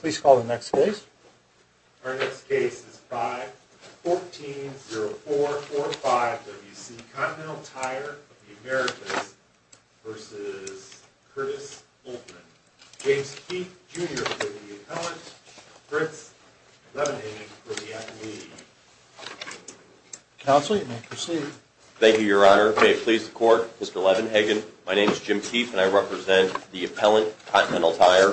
Please call the next case. Our next case is 5-140445 W.C. Continental Tire of the Amaericas v. Curtis Holtman. James Keefe, Jr. will be the appellant. Prince, Levenhagen will be the athlete. Counsel, you may proceed. Thank you, Your Honor. May it please the Court, Mr. Levenhagen, my name is Jim Keefe and I represent the appellant, Continental Tire.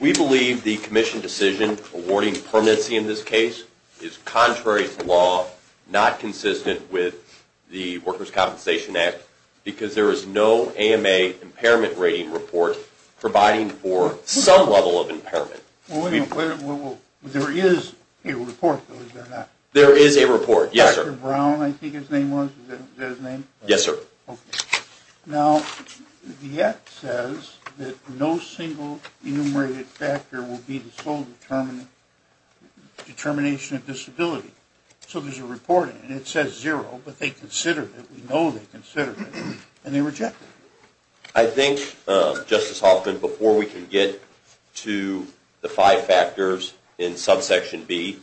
We believe the Commission decision awarding permanency in this case is contrary to law, not consistent with the Workers' Compensation Act, because there is no AMA impairment rating report providing for some level of impairment. There is a report, though, is there not? There is a report, yes, sir. Mr. Brown, I think his name was, is that his name? Yes, sir. Okay. Now, the Act says that no single enumerated factor will be the sole determination of disability. So there's a report, and it says zero, but they considered it, we know they considered it, and they rejected it. I think, Justice Holtman, before we can get to the five factors in subsection B,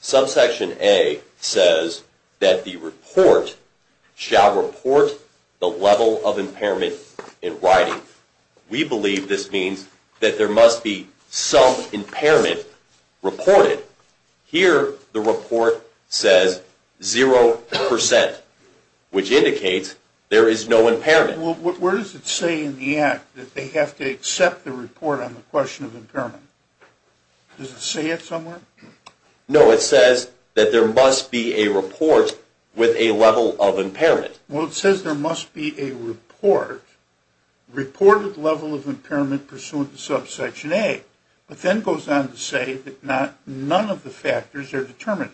subsection A says that the report shall report the level of impairment in writing. We believe this means that there must be some impairment reported. Here, the report says zero percent, which indicates there is no impairment. Where does it say in the Act that they have to accept the report on the question of impairment? Does it say it somewhere? No, it says that there must be a report with a level of impairment. Well, it says there must be a report, reported level of impairment pursuant to subsection A, but then goes on to say that none of the factors are determined.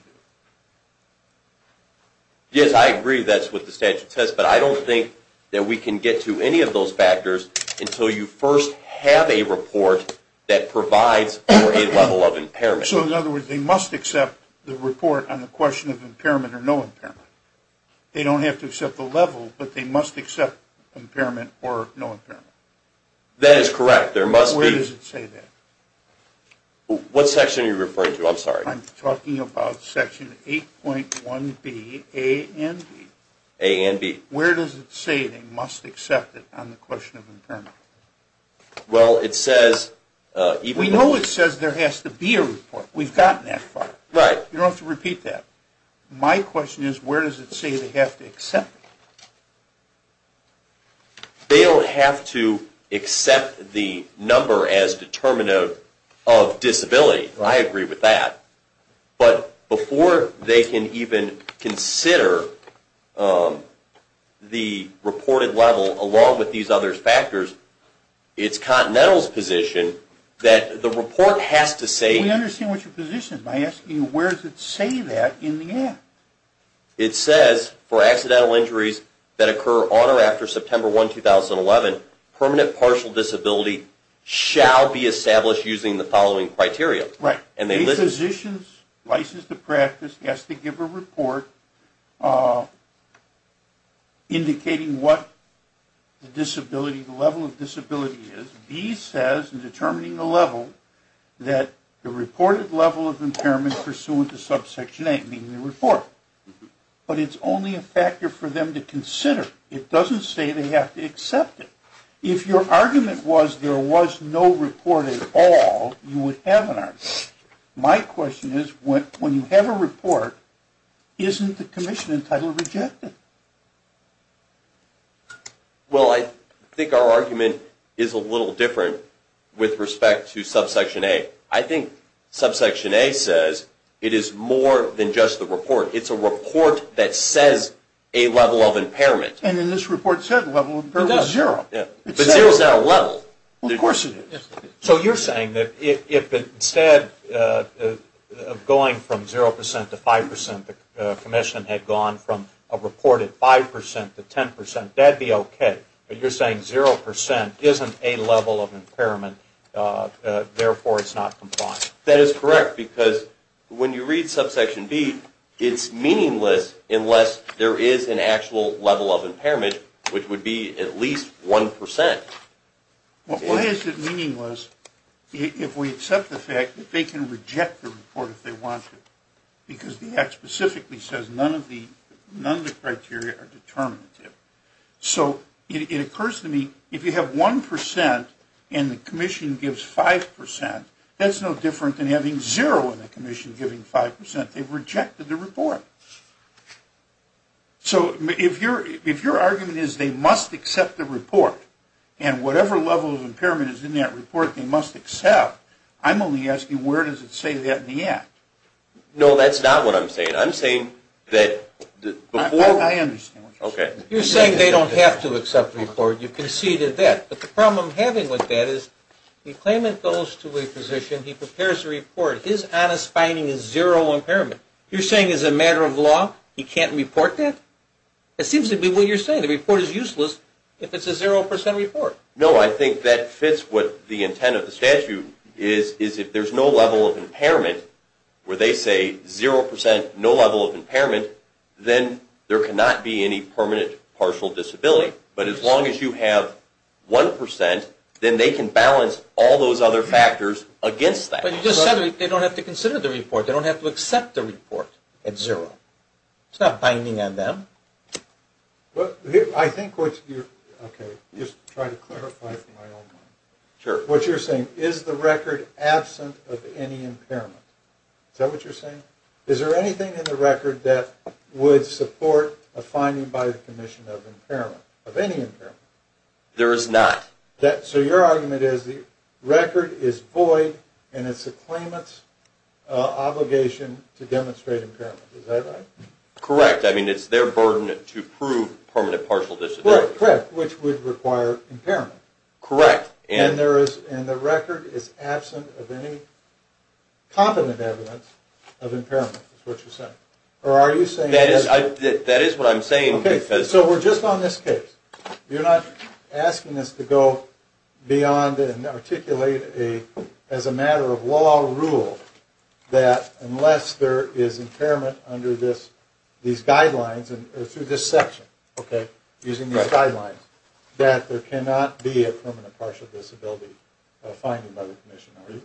Yes, I agree that's what the statute says, but I don't think that we can get to any of those factors until you first have a report that provides for a level of impairment. So in other words, they must accept the report on the question of impairment or no impairment. They don't have to accept the level, but they must accept impairment or no impairment. That is correct. Where does it say that? What section are you referring to? I'm sorry. I'm talking about section 8.1B, A and B. A and B. Where does it say they must accept it on the question of impairment? Well, it says... We know it says there has to be a report. We've gotten that far. Right. You don't have to repeat that. My question is where does it say they have to accept it? They don't have to accept the number as determinative of disability. I agree with that. But before they can even consider the reported level along with these other factors, it's Continental's position that the report has to say... We understand what your position is by asking where does it say that in the act. It says for accidental injuries that occur on or after September 1, 2011, permanent partial disability shall be established using the following criteria. Right. Physicians licensed to practice has to give a report indicating what the disability, the level of disability is. B says in determining the level that the reported level of impairment pursuant to subsection 8, meaning the report. But it's only a factor for them to consider. It doesn't say they have to accept it. If your argument was there was no report at all, you would have an argument. My question is when you have a report, isn't the commission entitled to reject it? Well, I think our argument is a little different with respect to subsection 8. I think subsection 8 says it is more than just the report. It's a report that says a level of impairment. And in this report it said a level of impairment was zero. But zero is not a level. Of course it is. So you're saying that if instead of going from 0% to 5%, the commission had gone from a reported 5% to 10%, that would be okay. But you're saying 0% isn't a level of impairment, therefore it's not compliant. That is correct because when you read subsection B, it's meaningless unless there is an actual level of impairment, which would be at least 1%. Why is it meaningless if we accept the fact that they can reject the report if they want to because the Act specifically says none of the criteria are determinative? So it occurs to me if you have 1% and the commission gives 5%, that's no different than having zero and the commission giving 5%. They've rejected the report. So if your argument is they must accept the report and whatever level of impairment is in that report they must accept, I'm only asking where does it say that in the Act? No, that's not what I'm saying. I'm saying that before... I understand what you're saying. Okay. You're saying they don't have to accept the report. You've conceded that. But the problem I'm having with that is the claimant goes to a physician, he prepares a report, his honest finding is zero impairment. You're saying as a matter of law he can't report that? It seems to be what you're saying. The report is useless if it's a 0% report. No, I think that fits with the intent of the statute is if there's no level of impairment where they say 0%, no level of impairment, then there cannot be any permanent partial disability. But as long as you have 1%, then they can balance all those other factors against that. But you just said they don't have to consider the report. They don't have to accept the report at zero. It's not binding on them. I think what you're... Okay, just try to clarify it in my own mind. Sure. What you're saying, is the record absent of any impairment? Is that what you're saying? Is there anything in the record that would support a finding by the Commission of impairment, of any impairment? There is not. So your argument is the record is void and it's the claimant's obligation to demonstrate impairment. Is that right? Correct. I mean, it's their burden to prove permanent partial disability. Correct, which would require impairment. Correct. And the record is absent of any competent evidence of impairment, is what you're saying. Or are you saying... That is what I'm saying because... Okay, so we're just on this case. You're not asking us to go beyond and articulate as a matter of law or rule that unless there is impairment under these guidelines, through this section, okay, using these guidelines, that there cannot be a permanent partial disability finding by the Commission, are you?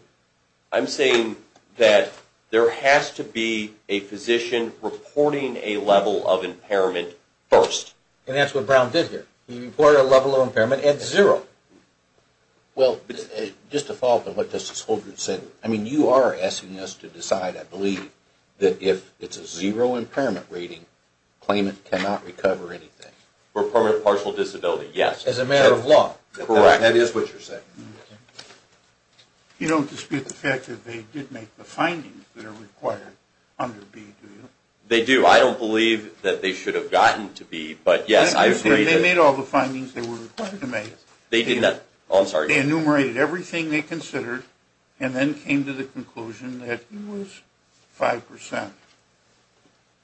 I'm saying that there has to be a physician reporting a level of impairment first. And that's what Brown did here. He reported a level of impairment at zero. Well, just to follow up on what Justice Holdren said, I mean, you are asking us to decide, I believe, that if it's a zero impairment rating, claimant cannot recover anything. For permanent partial disability, yes. As a matter of law. Correct. That is what you're saying. You don't dispute the fact that they did make the findings that are required under B, do you? They do. Well, I don't believe that they should have gotten to B, but yes, I agree. They made all the findings they were required to make. They did not. Oh, I'm sorry. They enumerated everything they considered and then came to the conclusion that it was 5%.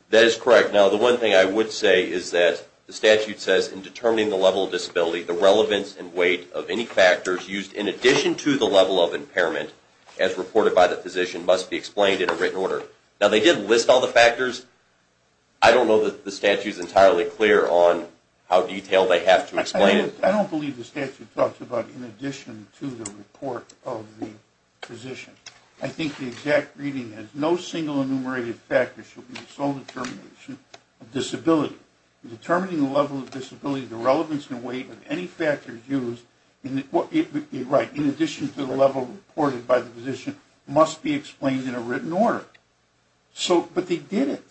That is correct. Now, the one thing I would say is that the statute says, in determining the level of disability, the relevance and weight of any factors used in addition to the level of impairment, as reported by the physician, must be explained in a written order. Now, they did list all the factors. I don't know that the statute is entirely clear on how detailed they have to explain it. I don't believe the statute talks about in addition to the report of the physician. I think the exact reading is, no single enumerated factor should be the sole determination of disability. In determining the level of disability, the relevance and weight of any factors used, in addition to the level reported by the physician, must be explained in a written order. But they did it.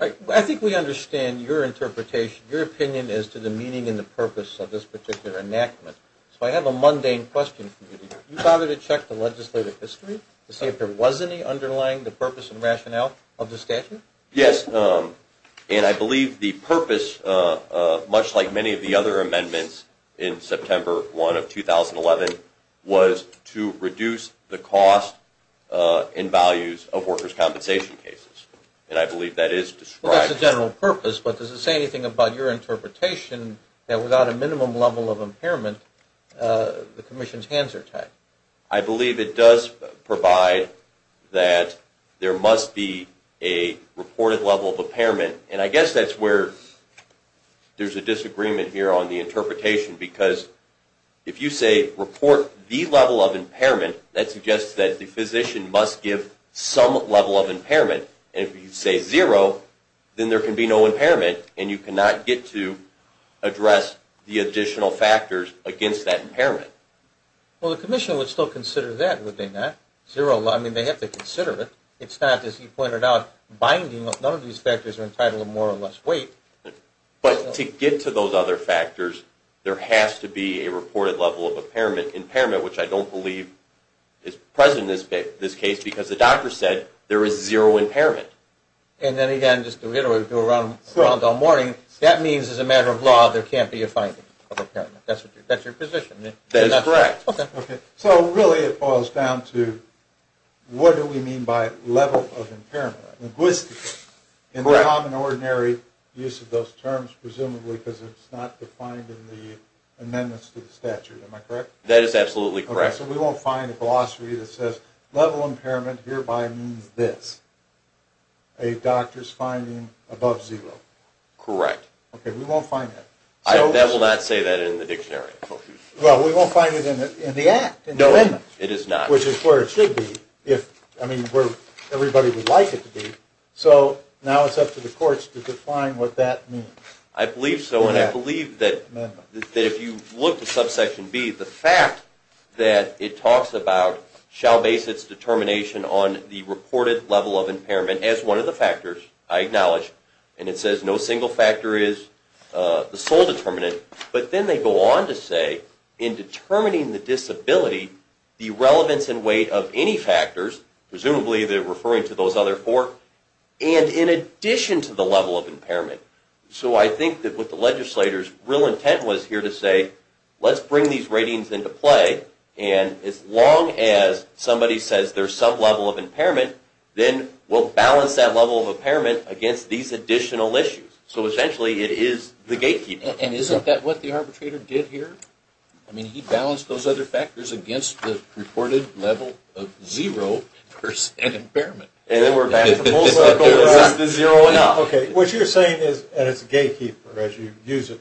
I think we understand your interpretation, your opinion as to the meaning and the purpose of this particular enactment. So I have a mundane question for you. Did you bother to check the legislative history to see if there was any underlying the purpose and rationale of the statute? Yes, and I believe the purpose, much like many of the other amendments in September 1 of 2011, was to reduce the cost and values of workers' compensation cases. And I believe that is described... Well, that's the general purpose, but does it say anything about your interpretation that without a minimum level of impairment, the Commission's hands are tied? I believe it does provide that there must be a reported level of impairment. And I guess that's where there's a disagreement here on the interpretation, because if you say report the level of impairment, that suggests that the physician must give some level of impairment. And if you say zero, then there can be no impairment, and you cannot get to address the additional factors against that impairment. Well, the Commission would still consider that, would they not? Zero, I mean, they have to consider it. It's not, as you pointed out, binding. None of these factors are entitled to more or less weight. But to get to those other factors, there has to be a reported level of impairment, which I don't believe is present in this case, because the doctor said there is zero impairment. And then, again, just to reiterate what we were doing around the morning, that means, as a matter of law, there can't be a finding of impairment. That's your position? That is correct. So, really, it boils down to, what do we mean by level of impairment? Linguistically, in the common, ordinary use of those terms, presumably because it's not defined in the amendments to the statute. Am I correct? That is absolutely correct. So we won't find a glossary that says, level of impairment hereby means this, a doctor's finding above zero. Correct. Okay, we won't find that. That will not say that in the dictionary. Well, we won't find it in the Act, in the amendment. No, it is not. Which is where it should be. I mean, where everybody would like it to be. So now it's up to the courts to define what that means. I believe so, and I believe that if you look to subsection B, the fact that it talks about shall base its determination on the reported level of impairment as one of the factors, I acknowledge, and it says no single factor is the sole determinant, but then they go on to say, in determining the disability, the relevance and weight of any factors, presumably they're referring to those other four, and in addition to the level of impairment. So I think that what the legislator's real intent was here to say, let's bring these ratings into play, and as long as somebody says there's some level of impairment, then we'll balance that level of impairment against these additional issues. So essentially it is the gatekeeper. And isn't that what the arbitrator did here? I mean, he balanced those other factors against the reported level of zero percent impairment. And then we're back to the full circle, where it's just the zero and up. Okay. What you're saying is, and it's gatekeeper, as you use it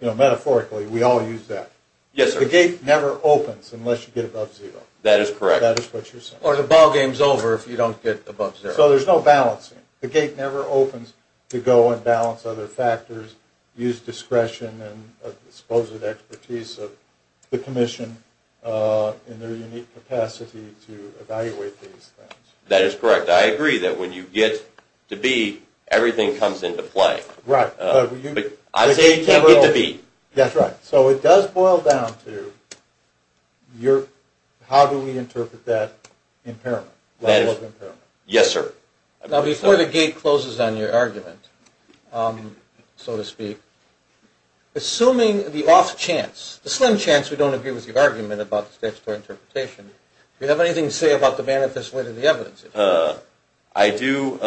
metaphorically, we all use that. Yes, sir. The gate never opens unless you get above zero. That is correct. That is what you're saying. Or the ballgame's over if you don't get above zero. So there's no balancing. The gate never opens to go and balance other factors, use discretion and a disposable expertise of the commission in their unique capacity to evaluate these things. That is correct. I agree that when you get to B, everything comes into play. Right. But I say you can't get to B. That's right. So it does boil down to how do we interpret that impairment, level of impairment. Yes, sir. Now, before the gate closes on your argument, so to speak, assuming the off chance, the slim chance we don't agree with your argument about the statutory interpretation, do you have anything to say about the manifest wit of the evidence? I do,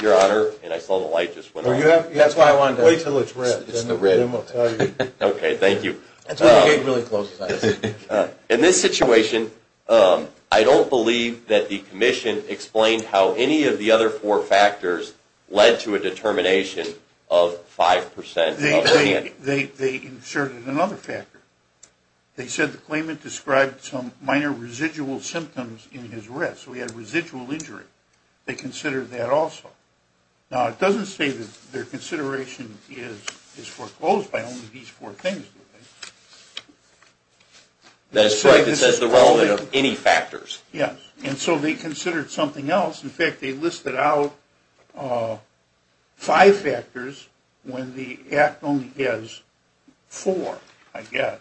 Your Honor, and I saw the light just went off. That's why I wanted to ask. Wait until it's red, and then we'll tell you. Okay, thank you. That's why the gate really closes on us. In this situation, I don't believe that the commission explained how any of the other four factors led to a determination of 5% of the band. They inserted another factor. They said the claimant described some minor residual symptoms in his wrist, so he had residual injury. They considered that also. Now, it doesn't say that their consideration is foreclosed by only these four things, do they? That's right. It says the relevant of any factors. Yes, and so they considered something else. In fact, they listed out five factors when the act only has four, I guess.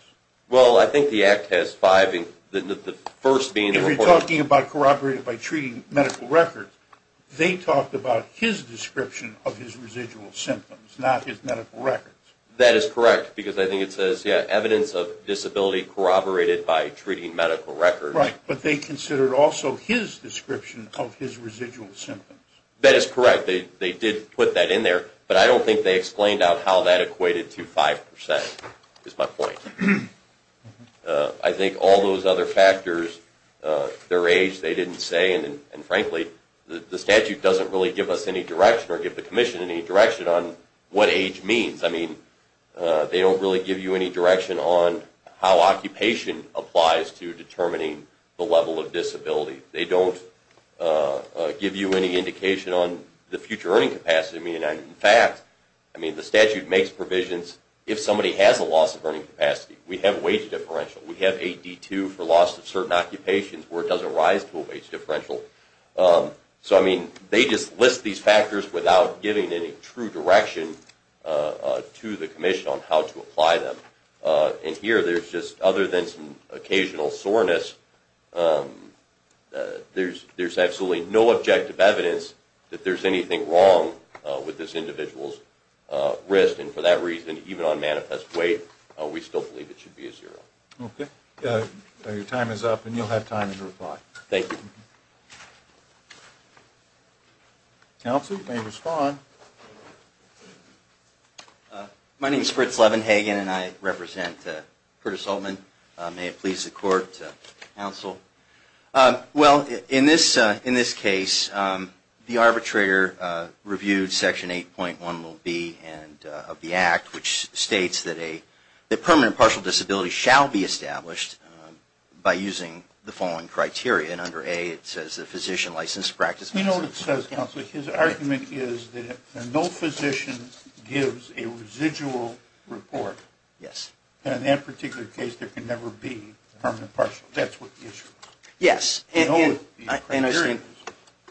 Well, I think the act has five. If you're talking about corroborating by treating medical records, they talked about his description of his residual symptoms, not his medical records. That is correct, because I think it says, yeah, evidence of disability corroborated by treating medical records. Right, but they considered also his description of his residual symptoms. That is correct. They did put that in there, but I don't think they explained how that equated to 5%, is my point. I think all those other factors, their age, they didn't say, and frankly the statute doesn't really give us any direction or give the commission any direction on what age means. They don't really give you any direction on how occupation applies to determining the level of disability. They don't give you any indication on the future earning capacity. In fact, the statute makes provisions, if somebody has a loss of earning capacity, we have wage differential. We have AD2 for loss of certain occupations, where it doesn't rise to a wage differential. So, I mean, they just list these factors without giving any true direction to the commission on how to apply them. And here, there's just, other than some occasional soreness, there's absolutely no objective evidence that there's anything wrong with this individual's wrist, and for that reason, even on manifest weight, we still believe it should be a zero. Okay, your time is up, and you'll have time to reply. Thank you. Counsel, you may respond. My name is Fritz Levenhagen, and I represent Curtis Hultman. May it please the court, counsel. Well, in this case, the arbitrator reviewed Section 8.1b of the Act, which states that permanent partial disability shall be established by using the following criteria, and under A, it says that physician licensed practice... You know what it says, counsel? His argument is that if no physician gives a residual report, then in that particular case, there can never be permanent partial. That's what the issue is. Yes, and I think... I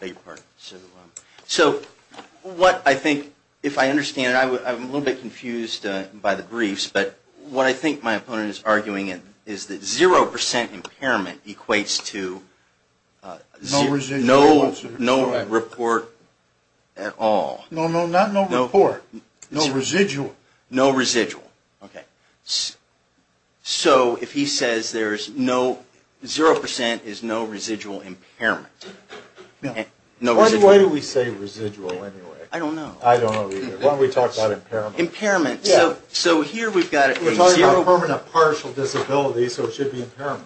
beg your pardon. So, what I think, if I understand it, I'm a little bit confused by the briefs, but what I think my opponent is arguing is that zero percent impairment equates to no report at all. No, no, not no report, no residual. No residual, okay. So, if he says there's no... zero percent is no residual impairment. Why do we say residual anyway? I don't know. I don't know either. Why don't we talk about impairment? Impairment. So, here we've got... We're talking about permanent partial disability, so it should be impairment.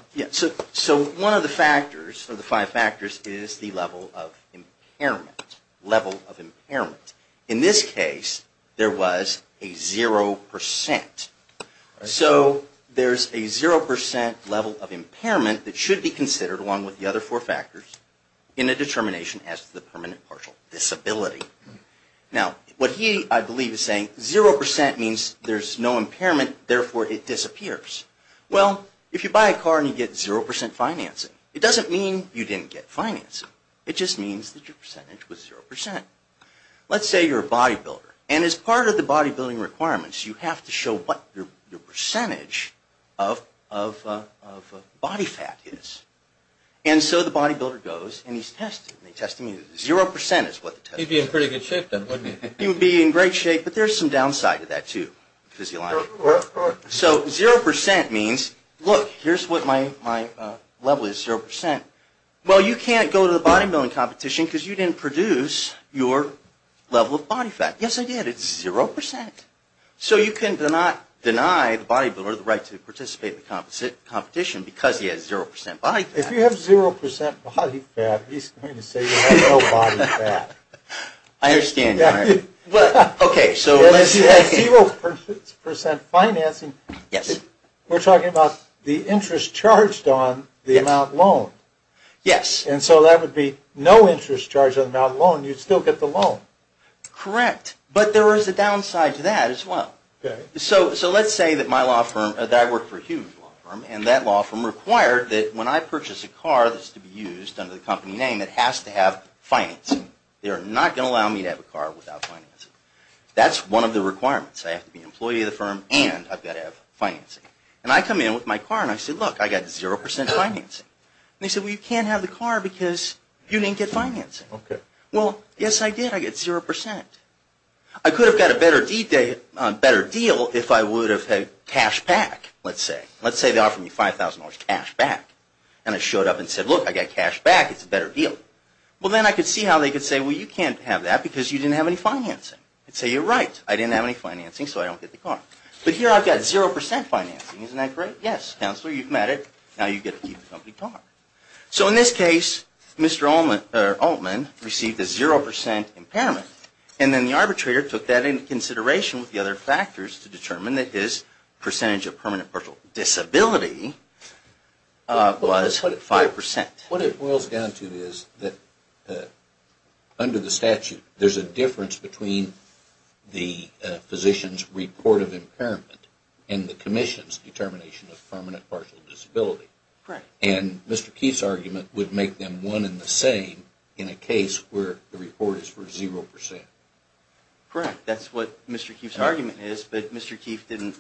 So, one of the factors, or the five factors, is the level of impairment. Level of impairment. In this case, there was a zero percent. So, there's a zero percent level of impairment that should be considered, along with the other four factors, in a determination as to the permanent partial disability. Now, what he, I believe, is saying, zero percent means there's no impairment, therefore it disappears. Well, if you buy a car and you get zero percent financing, it doesn't mean you didn't get financing. It just means that your percentage was zero percent. Let's say you're a bodybuilder, and as part of the bodybuilding requirements, you have to show what your percentage of body fat is. And so the bodybuilder goes and he's tested, zero percent is what the test is. He'd be in pretty good shape, then, wouldn't he? He would be in great shape, but there's some downside to that, too. Physiologically. So, zero percent means, look, here's what my level is, zero percent. Well, you can't go to the bodybuilding competition because you didn't produce your level of body fat. Yes, I did. It's zero percent. So, you can deny the bodybuilder the right to participate in the competition because he has zero percent body fat. If you have zero percent body fat, he's going to say you have no body fat. I understand. Okay, so unless you have zero percent financing. Yes. We're talking about the interest charged on the amount loaned. Yes. And so that would be no interest charged on the amount loaned. You'd still get the loan. Correct, but there is a downside to that as well. Okay. So, let's say that my law firm, that I work for a huge law firm, and that law firm required that when I purchase a car that's to be used under the company name, it has to have financing. They are not going to allow me to have a car without financing. That's one of the requirements. I have to be an employee of the firm and I've got to have financing. And I come in with my car and I say, look, I've got zero percent financing. And they say, well, you can't have the car because you didn't get financing. Okay. Well, yes, I did. I got zero percent. I could have got a better deal if I would have had cash back, let's say. Let's say they offer me $5,000 cash back. And I showed up and said, look, I got cash back. It's a better deal. Well, then I could see how they could say, well, you can't have that because you didn't have any financing. I'd say, you're right. I didn't have any financing so I don't get the car. But here I've got zero percent financing. Isn't that great? Yes, counselor, you've met it. Now you get to keep the company car. So, in this case, Mr. Altman received a zero percent impairment. And then the arbitrator took that into consideration with the other factors to determine that his percentage of permanent partial disability was five percent. What it boils down to is that under the statute there's a difference between the physician's report of impairment and the commission's determination of permanent partial disability. And Mr. Keefe's argument would make them one and the same in a case where the report is for zero percent. Correct. That's what Mr. Keefe's argument is. But Mr. Keefe didn't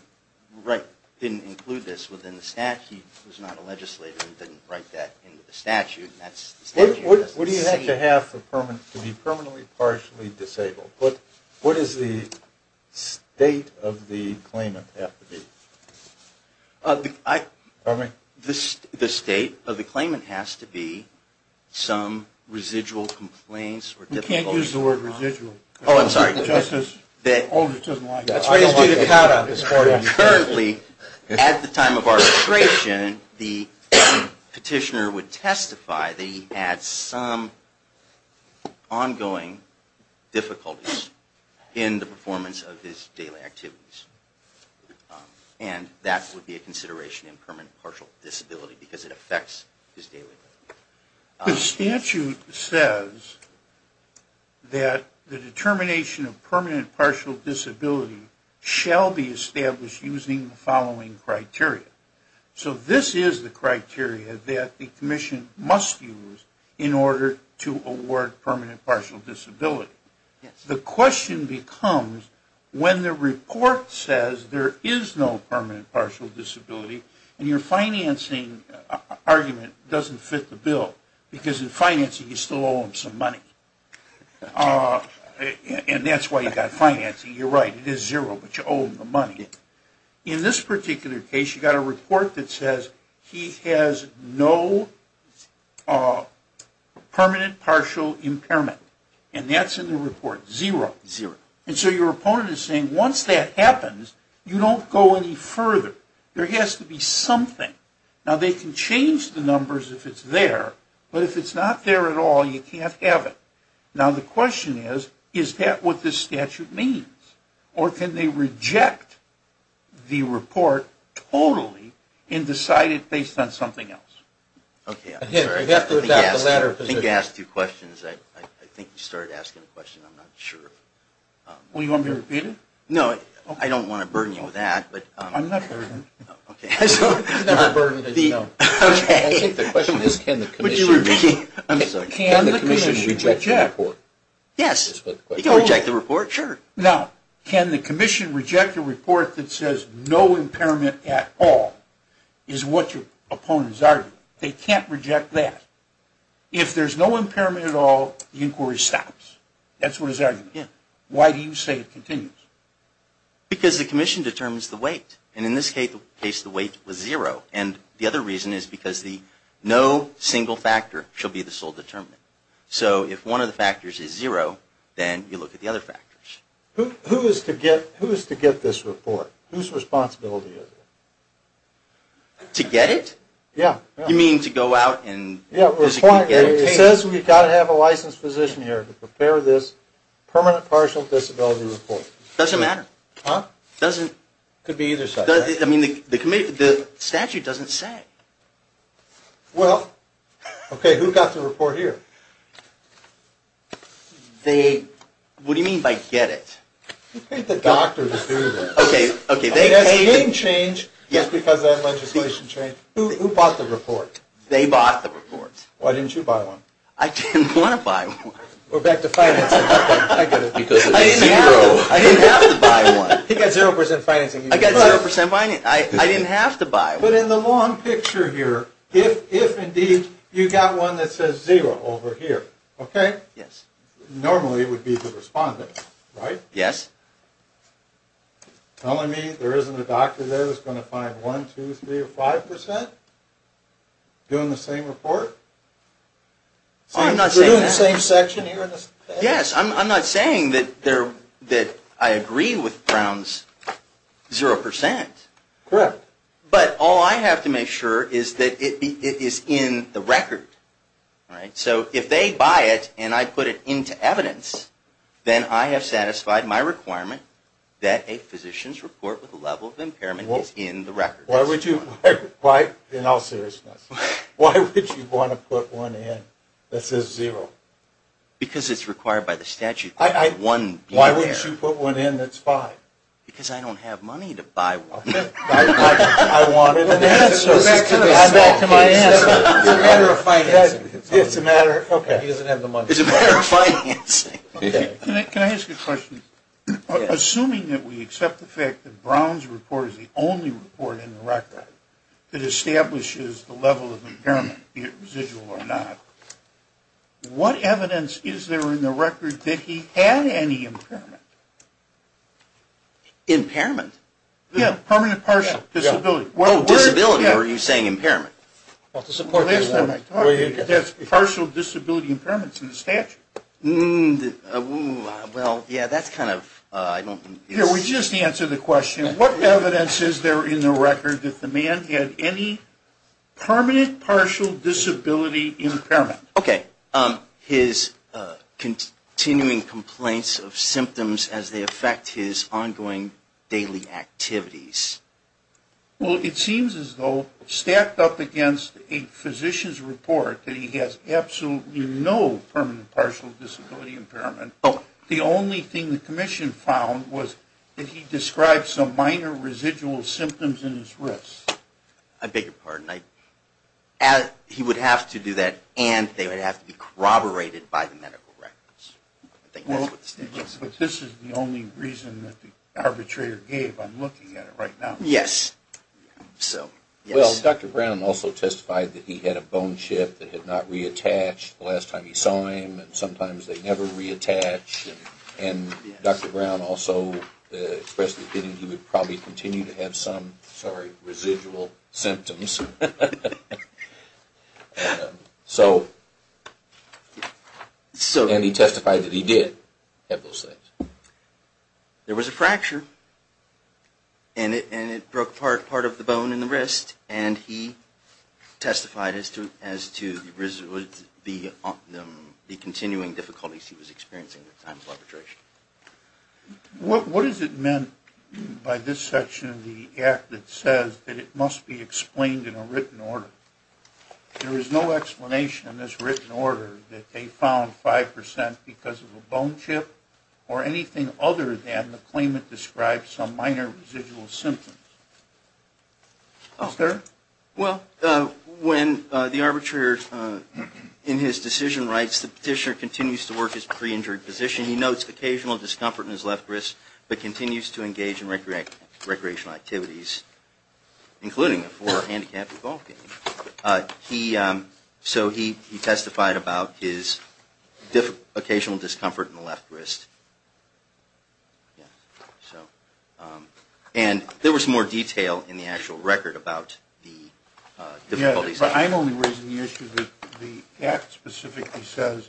include this within the statute. He was not a legislator and didn't write that into the statute. What do you have to have to be permanently partially disabled? What does the state of the claimant have to be? Pardon me? The state of the claimant has to be some residual complaints. You can't use the word residual. Oh, I'm sorry. Justice Aldrich doesn't like that. I don't like that. Currently, at the time of arbitration, the petitioner would testify that he had some ongoing difficulties in the performance of his daily activities. And that would be a consideration in permanent partial disability because it affects his daily activities. The statute says that the determination of permanent partial disability shall be established using the following criteria. So this is the criteria that the commission must use in order to award permanent partial disability. The question becomes, when the report says there is no permanent partial disability and your financing argument doesn't fit the bill because in financing you still owe him some money and that's why you got financing. You're right, it is zero, but you owe him the money. In this particular case, you've got a report that says he has no permanent partial impairment. And that's in the report, zero. And so your opponent is saying once that happens, you don't go any further. There has to be something. Now, they can change the numbers if it's there, but if it's not there at all, you can't have it. Now, the question is, is that what this statute means? Or can they reject the report totally and decide it based on something else? Okay, I'm sorry. I think you asked two questions. I think you started asking a question. I'm not sure. Well, you want me to repeat it? No, I don't want to burden you with that. I'm not burdened. Okay. I think the question is, can the commission reject the report? Yes. You can reject the report. Sure. Now, can the commission reject a report that says no impairment at all is what your opponent is arguing? They can't reject that. If there's no impairment at all, the inquiry stops. That's what his argument is. Why do you say it continues? Because the commission determines the weight. And in this case, the weight was zero. And the other reason is because no single factor should be the sole determinant. So if one of the factors is zero, then you look at the other factors. Who is to get this report? Whose responsibility is it? To get it? Yeah. You mean to go out and physically get it? It says we've got to have a licensed physician here to prepare this permanent partial disability report. It doesn't matter. Huh? It doesn't. It could be either side. I mean, the statute doesn't say. Well, okay, who got the report here? What do you mean by get it? You paid the doctor to do this. Okay, okay. I mean, that's a game change just because of that legislation change. Who bought the report? They bought the report. Why didn't you buy one? I didn't want to buy one. We're back to financing. I get it. Because it's zero. I didn't have to buy one. He got zero percent financing. I got zero percent financing. I didn't have to buy one. But in the long picture here, if indeed you got one that says zero over here, okay? Yes. Normally it would be the respondent, right? Yes. Telling me there isn't a doctor there that's going to find one, two, three, or five percent doing the same report? I'm not saying that. So you're doing the same section here in this? Yes. I'm not saying that I agree with Brown's zero percent. Correct. But all I have to make sure is that it is in the record, right? So if they buy it and I put it into evidence, then I have satisfied my requirement that a physician's report with a level of impairment is in the record. In all seriousness, why would you want to put one in that says zero? Because it's required by the statute that one be there. Why wouldn't you put one in that's five? Because I don't have money to buy one. I wanted an answer. I'm back to my answer. It's a matter of financing. He doesn't have the money. It's a matter of financing. Can I ask a question? Assuming that we accept the fact that Brown's report is the only report in the record that establishes the level of impairment, be it residual or not, what evidence is there in the record that he had any impairment? Impairment? Yes. Permanent partial disability. Disability? Or are you saying impairment? That's partial disability impairments in the statute. Well, yeah, that's kind of ‑‑ We just answered the question. What evidence is there in the record that the man had any permanent partial disability impairment? Okay. His continuing complaints of symptoms as they affect his ongoing daily activities. Well, it seems as though stacked up against a physician's report that he has absolutely no permanent partial disability impairment, the only thing the commission found was that he described some minor residual symptoms in his wrists. I beg your pardon. He would have to do that and they would have to be corroborated by the medical records. But this is the only reason that the arbitrator gave. I'm looking at it right now. Yes. Well, Dr. Brown also testified that he had a bone chip that had not reattached the last time he saw him and sometimes they never reattach. And Dr. Brown also expressed the opinion that he would probably continue to have some, sorry, residual symptoms. So, and he testified that he did have those things. There was a fracture and it broke part of the bone in the wrist and he testified as to the continuing difficulties he was experiencing at times of arbitration. What is it meant by this section of the act that says that it must be explained in a written order? There is no explanation in this written order that they found 5% because of a bone chip or anything other than the claimant described some minor residual symptoms. Is there? Well, when the arbitrator, in his decision rights, the petitioner continues to work his pre-injured position, he notes occasional discomfort in his left wrist, but continues to engage in recreational activities, including a form of handicapped golf game. He, so he testified about his occasional discomfort in the left wrist. And there was more detail in the actual record about the difficulties. Yes, but I'm only raising the issue that the act specifically says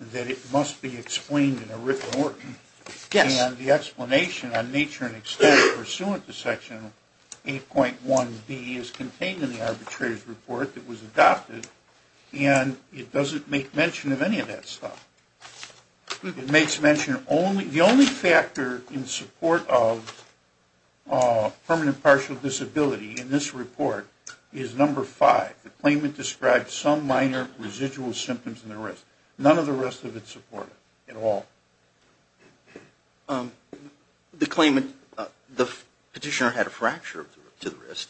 that it must be explained in a written order. Yes. And the explanation on nature and extent pursuant to Section 8.1b is contained in the arbitrator's report that was adopted and it doesn't make mention of any of that stuff. It makes mention of only, the only factor in support of permanent partial disability in this report is number 5. The claimant described some minor residual symptoms in the wrist. None of the rest of it supported at all. The claimant, the petitioner had a fracture to the wrist.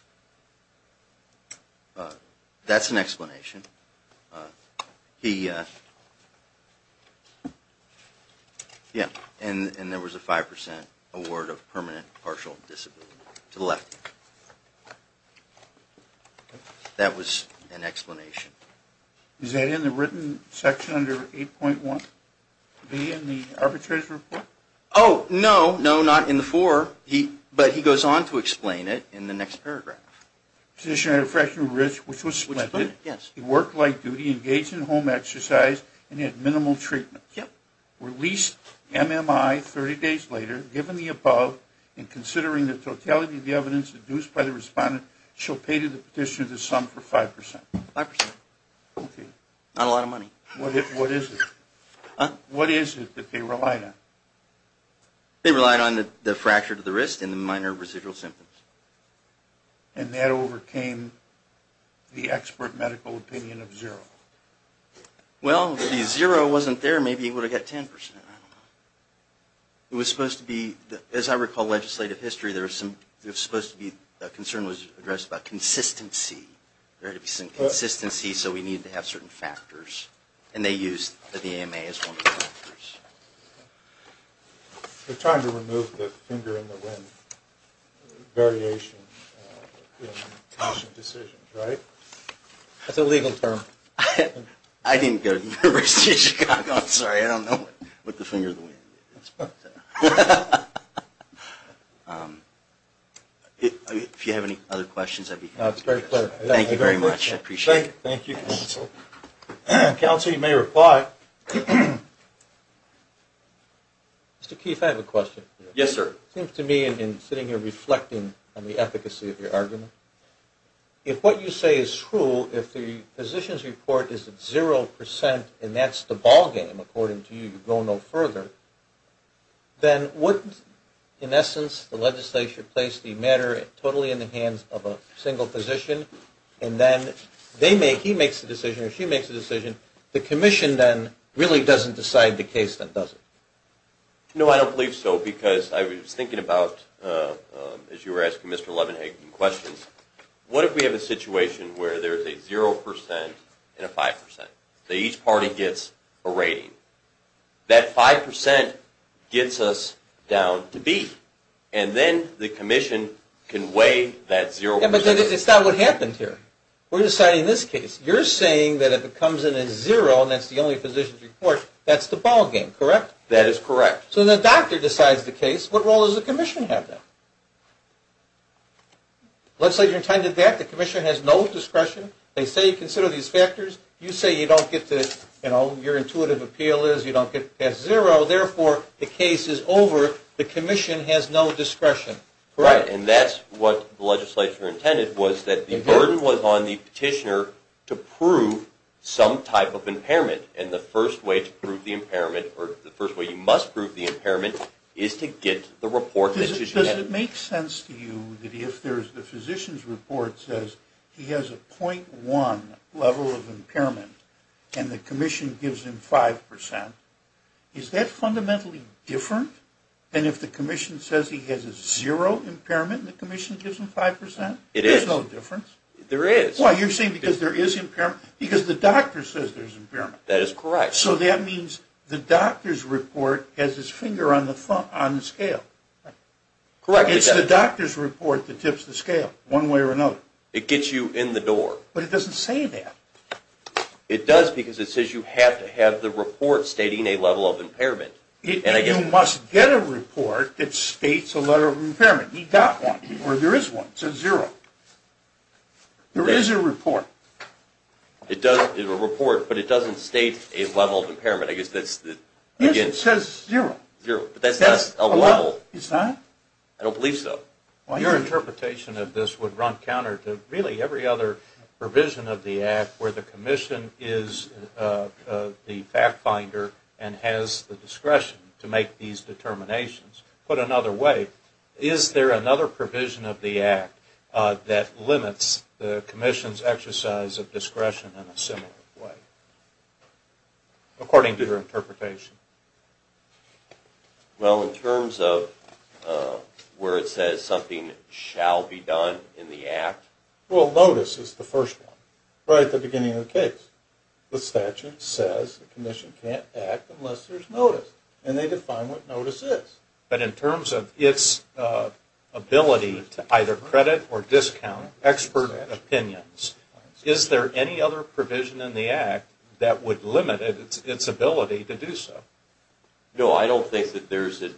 That's an explanation. He, yeah, and there was a 5% award of permanent partial disability to the left. That was an explanation. Is that in the written section under 8.1b in the arbitrator's report? Oh, no, no, not in the fore, but he goes on to explain it in the next paragraph. Petitioner had a fracture to the wrist, which was explained? Yes. He worked light duty, engaged in home exercise, and had minimal treatment. Yep. Released MMI 30 days later, given the above, and considering the totality of the evidence induced by the respondent, she'll pay to the petitioner the sum for 5%. 5%. Okay. Not a lot of money. What is it? What is it that they relied on? They relied on the fracture to the wrist and the minor residual symptoms. And that overcame the expert medical opinion of zero. Well, if the zero wasn't there, maybe he would have got 10%. I don't know. It was supposed to be, as I recall legislative history, there was supposed to be, a concern was addressed about consistency. There had to be some consistency, so we needed to have certain factors. And they used the AMA as one of the factors. We're trying to remove the finger in the wind variation in decision, right? That's a legal term. I didn't go to the University of Chicago. I'm sorry. I don't know what the finger in the wind is. But if you have any other questions, I'd be happy to address them. It's a great pleasure. Thank you very much. I appreciate it. Thank you, counsel. Counsel, you may reply. Mr. Keefe, I have a question. Yes, sir. It seems to me in sitting here reflecting on the efficacy of your argument, if what you say is true, if the physician's report is at zero percent and that's the ballgame, according to you, you go no further, then wouldn't, in essence, the legislature place the matter totally in the hands of a single physician and then he makes the decision or she makes the decision? The commission then really doesn't decide the case, then, does it? No, I don't believe so because I was thinking about, as you were asking Mr. Levenhagen questions, what if we have a situation where there's a zero percent and a five percent? So each party gets a rating. That five percent gets us down to B. And then the commission can weigh that zero percent. But it's not what happened here. We're deciding this case. You're saying that if it comes in at zero and that's the only physician's report, that's the ballgame, correct? That is correct. So the doctor decides the case. What role does the commission have then? Let's say you're entitled to that. The commission has no discretion. They say you consider these factors. You say you don't get to, you know, your intuitive appeal is you don't get past zero. Therefore, the case is over. The commission has no discretion, correct? Right, and that's what the legislature intended was that the burden was on the petitioner to prove some type of impairment. And the first way to prove the impairment or the first way you must prove the impairment is to get the report. Does it make sense to you that if there's the physician's report says he has a .1 level of impairment and the commission gives him five percent, is that fundamentally different than if the commission says he has a zero impairment and the commission gives him five percent? It is. There's no difference. There is. Why, you're saying because there is impairment? Because the doctor says there's impairment. That is correct. So that means the doctor's report has his finger on the scale. Correct. It's the doctor's report that tips the scale one way or another. It gets you in the door. But it doesn't say that. It does because it says you have to have the report stating a level of impairment. And you must get a report that states a level of impairment. He got one. Or there is one. It says zero. There is a report. It is a report, but it doesn't state a level of impairment. Yes, it says zero. But that's not a level. It's not? I don't believe so. Your interpretation of this would run counter to really every other provision of the act where the commission is the fact finder and has the discretion to make these determinations. Put another way, is there another provision of the act that limits the commission's exercise of discretion in a similar way, according to your interpretation? Well, in terms of where it says something shall be done in the act. Well, notice is the first one. Right at the beginning of the case. The statute says the commission can't act unless there is notice. And they define what notice is. But in terms of its ability to either credit or discount expert opinions, is there any other provision in the act that would limit its ability to do so? No, I don't think that there is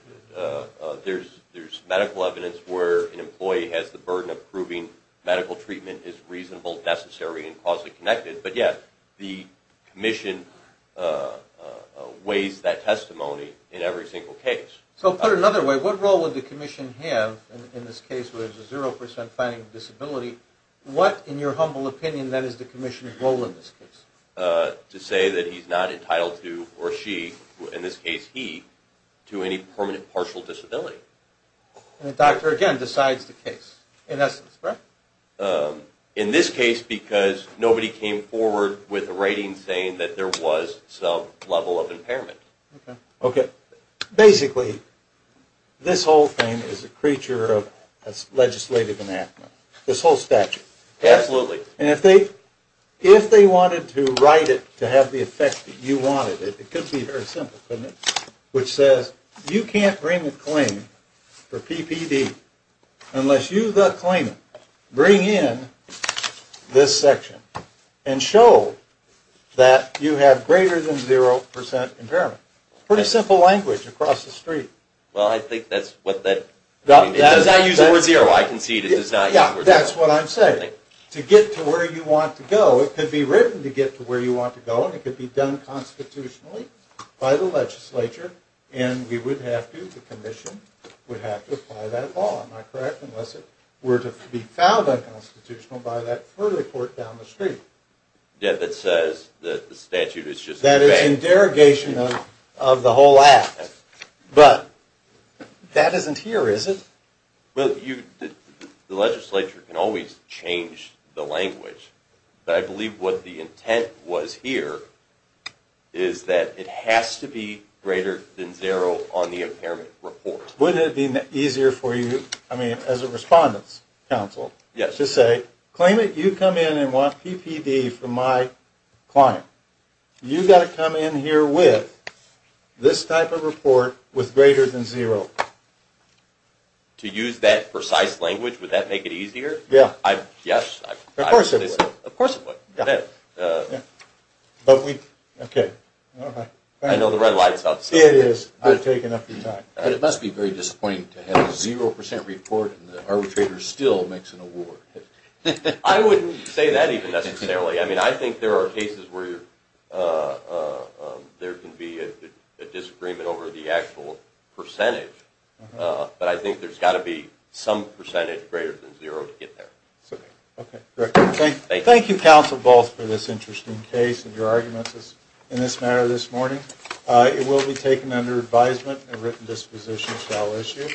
medical evidence where an employee has the burden of proving medical treatment is reasonable, necessary, and causally connected. But, yes, the commission weighs that testimony in every single case. So put another way, what role would the commission have in this case where it's a zero percent finding disability? What, in your humble opinion, that is the commission's role in this case? To say that he's not entitled to, or she, in this case he, to any permanent partial disability. And the doctor, again, decides the case, in essence, correct? In this case, because nobody came forward with a rating saying that there was some level of impairment. Okay. Basically, this whole thing is a creature of legislative anathema. This whole statute. Absolutely. And if they wanted to write it to have the effect that you wanted, it could be very simple, couldn't it? Which says, you can't bring a claim for PPD unless you, the claimant, bring in this section and show that you have greater than zero percent impairment. Pretty simple language across the street. Well, I think that's what that... It does not use the word zero. I concede it does not use the word zero. Yeah, that's what I'm saying. To get to where you want to go, it could be written to get to where you want to go, and it could be done constitutionally by the legislature. And we would have to, the commission would have to apply that law, am I correct? Unless it were to be found unconstitutional by that further court down the street. Yeah, that says that the statute is just... That is in derogation of the whole act. But that isn't here, is it? Well, the legislature can always change the language. But I believe what the intent was here is that it has to be greater than zero on the impairment report. Wouldn't it be easier for you, I mean, as a respondent's counsel, to say, claimant, you come in and want PPD from my client. You've got to come in here with this type of report with greater than zero. To use that precise language, would that make it easier? Yeah. Yes. Of course it would. Of course it would. But we... Okay, all right. I know the red light is off. It is. I've taken up your time. But it must be very disappointing to have a zero percent report and the arbitrator still makes an award. I wouldn't say that even necessarily. I mean, I think there are cases where there can be a disagreement over the actual percentage. But I think there's got to be some percentage greater than zero to get there. Okay. Thank you, counsel, both, for this interesting case and your arguments in this matter this morning. It will be taken under advisement and a written disposition shall issue.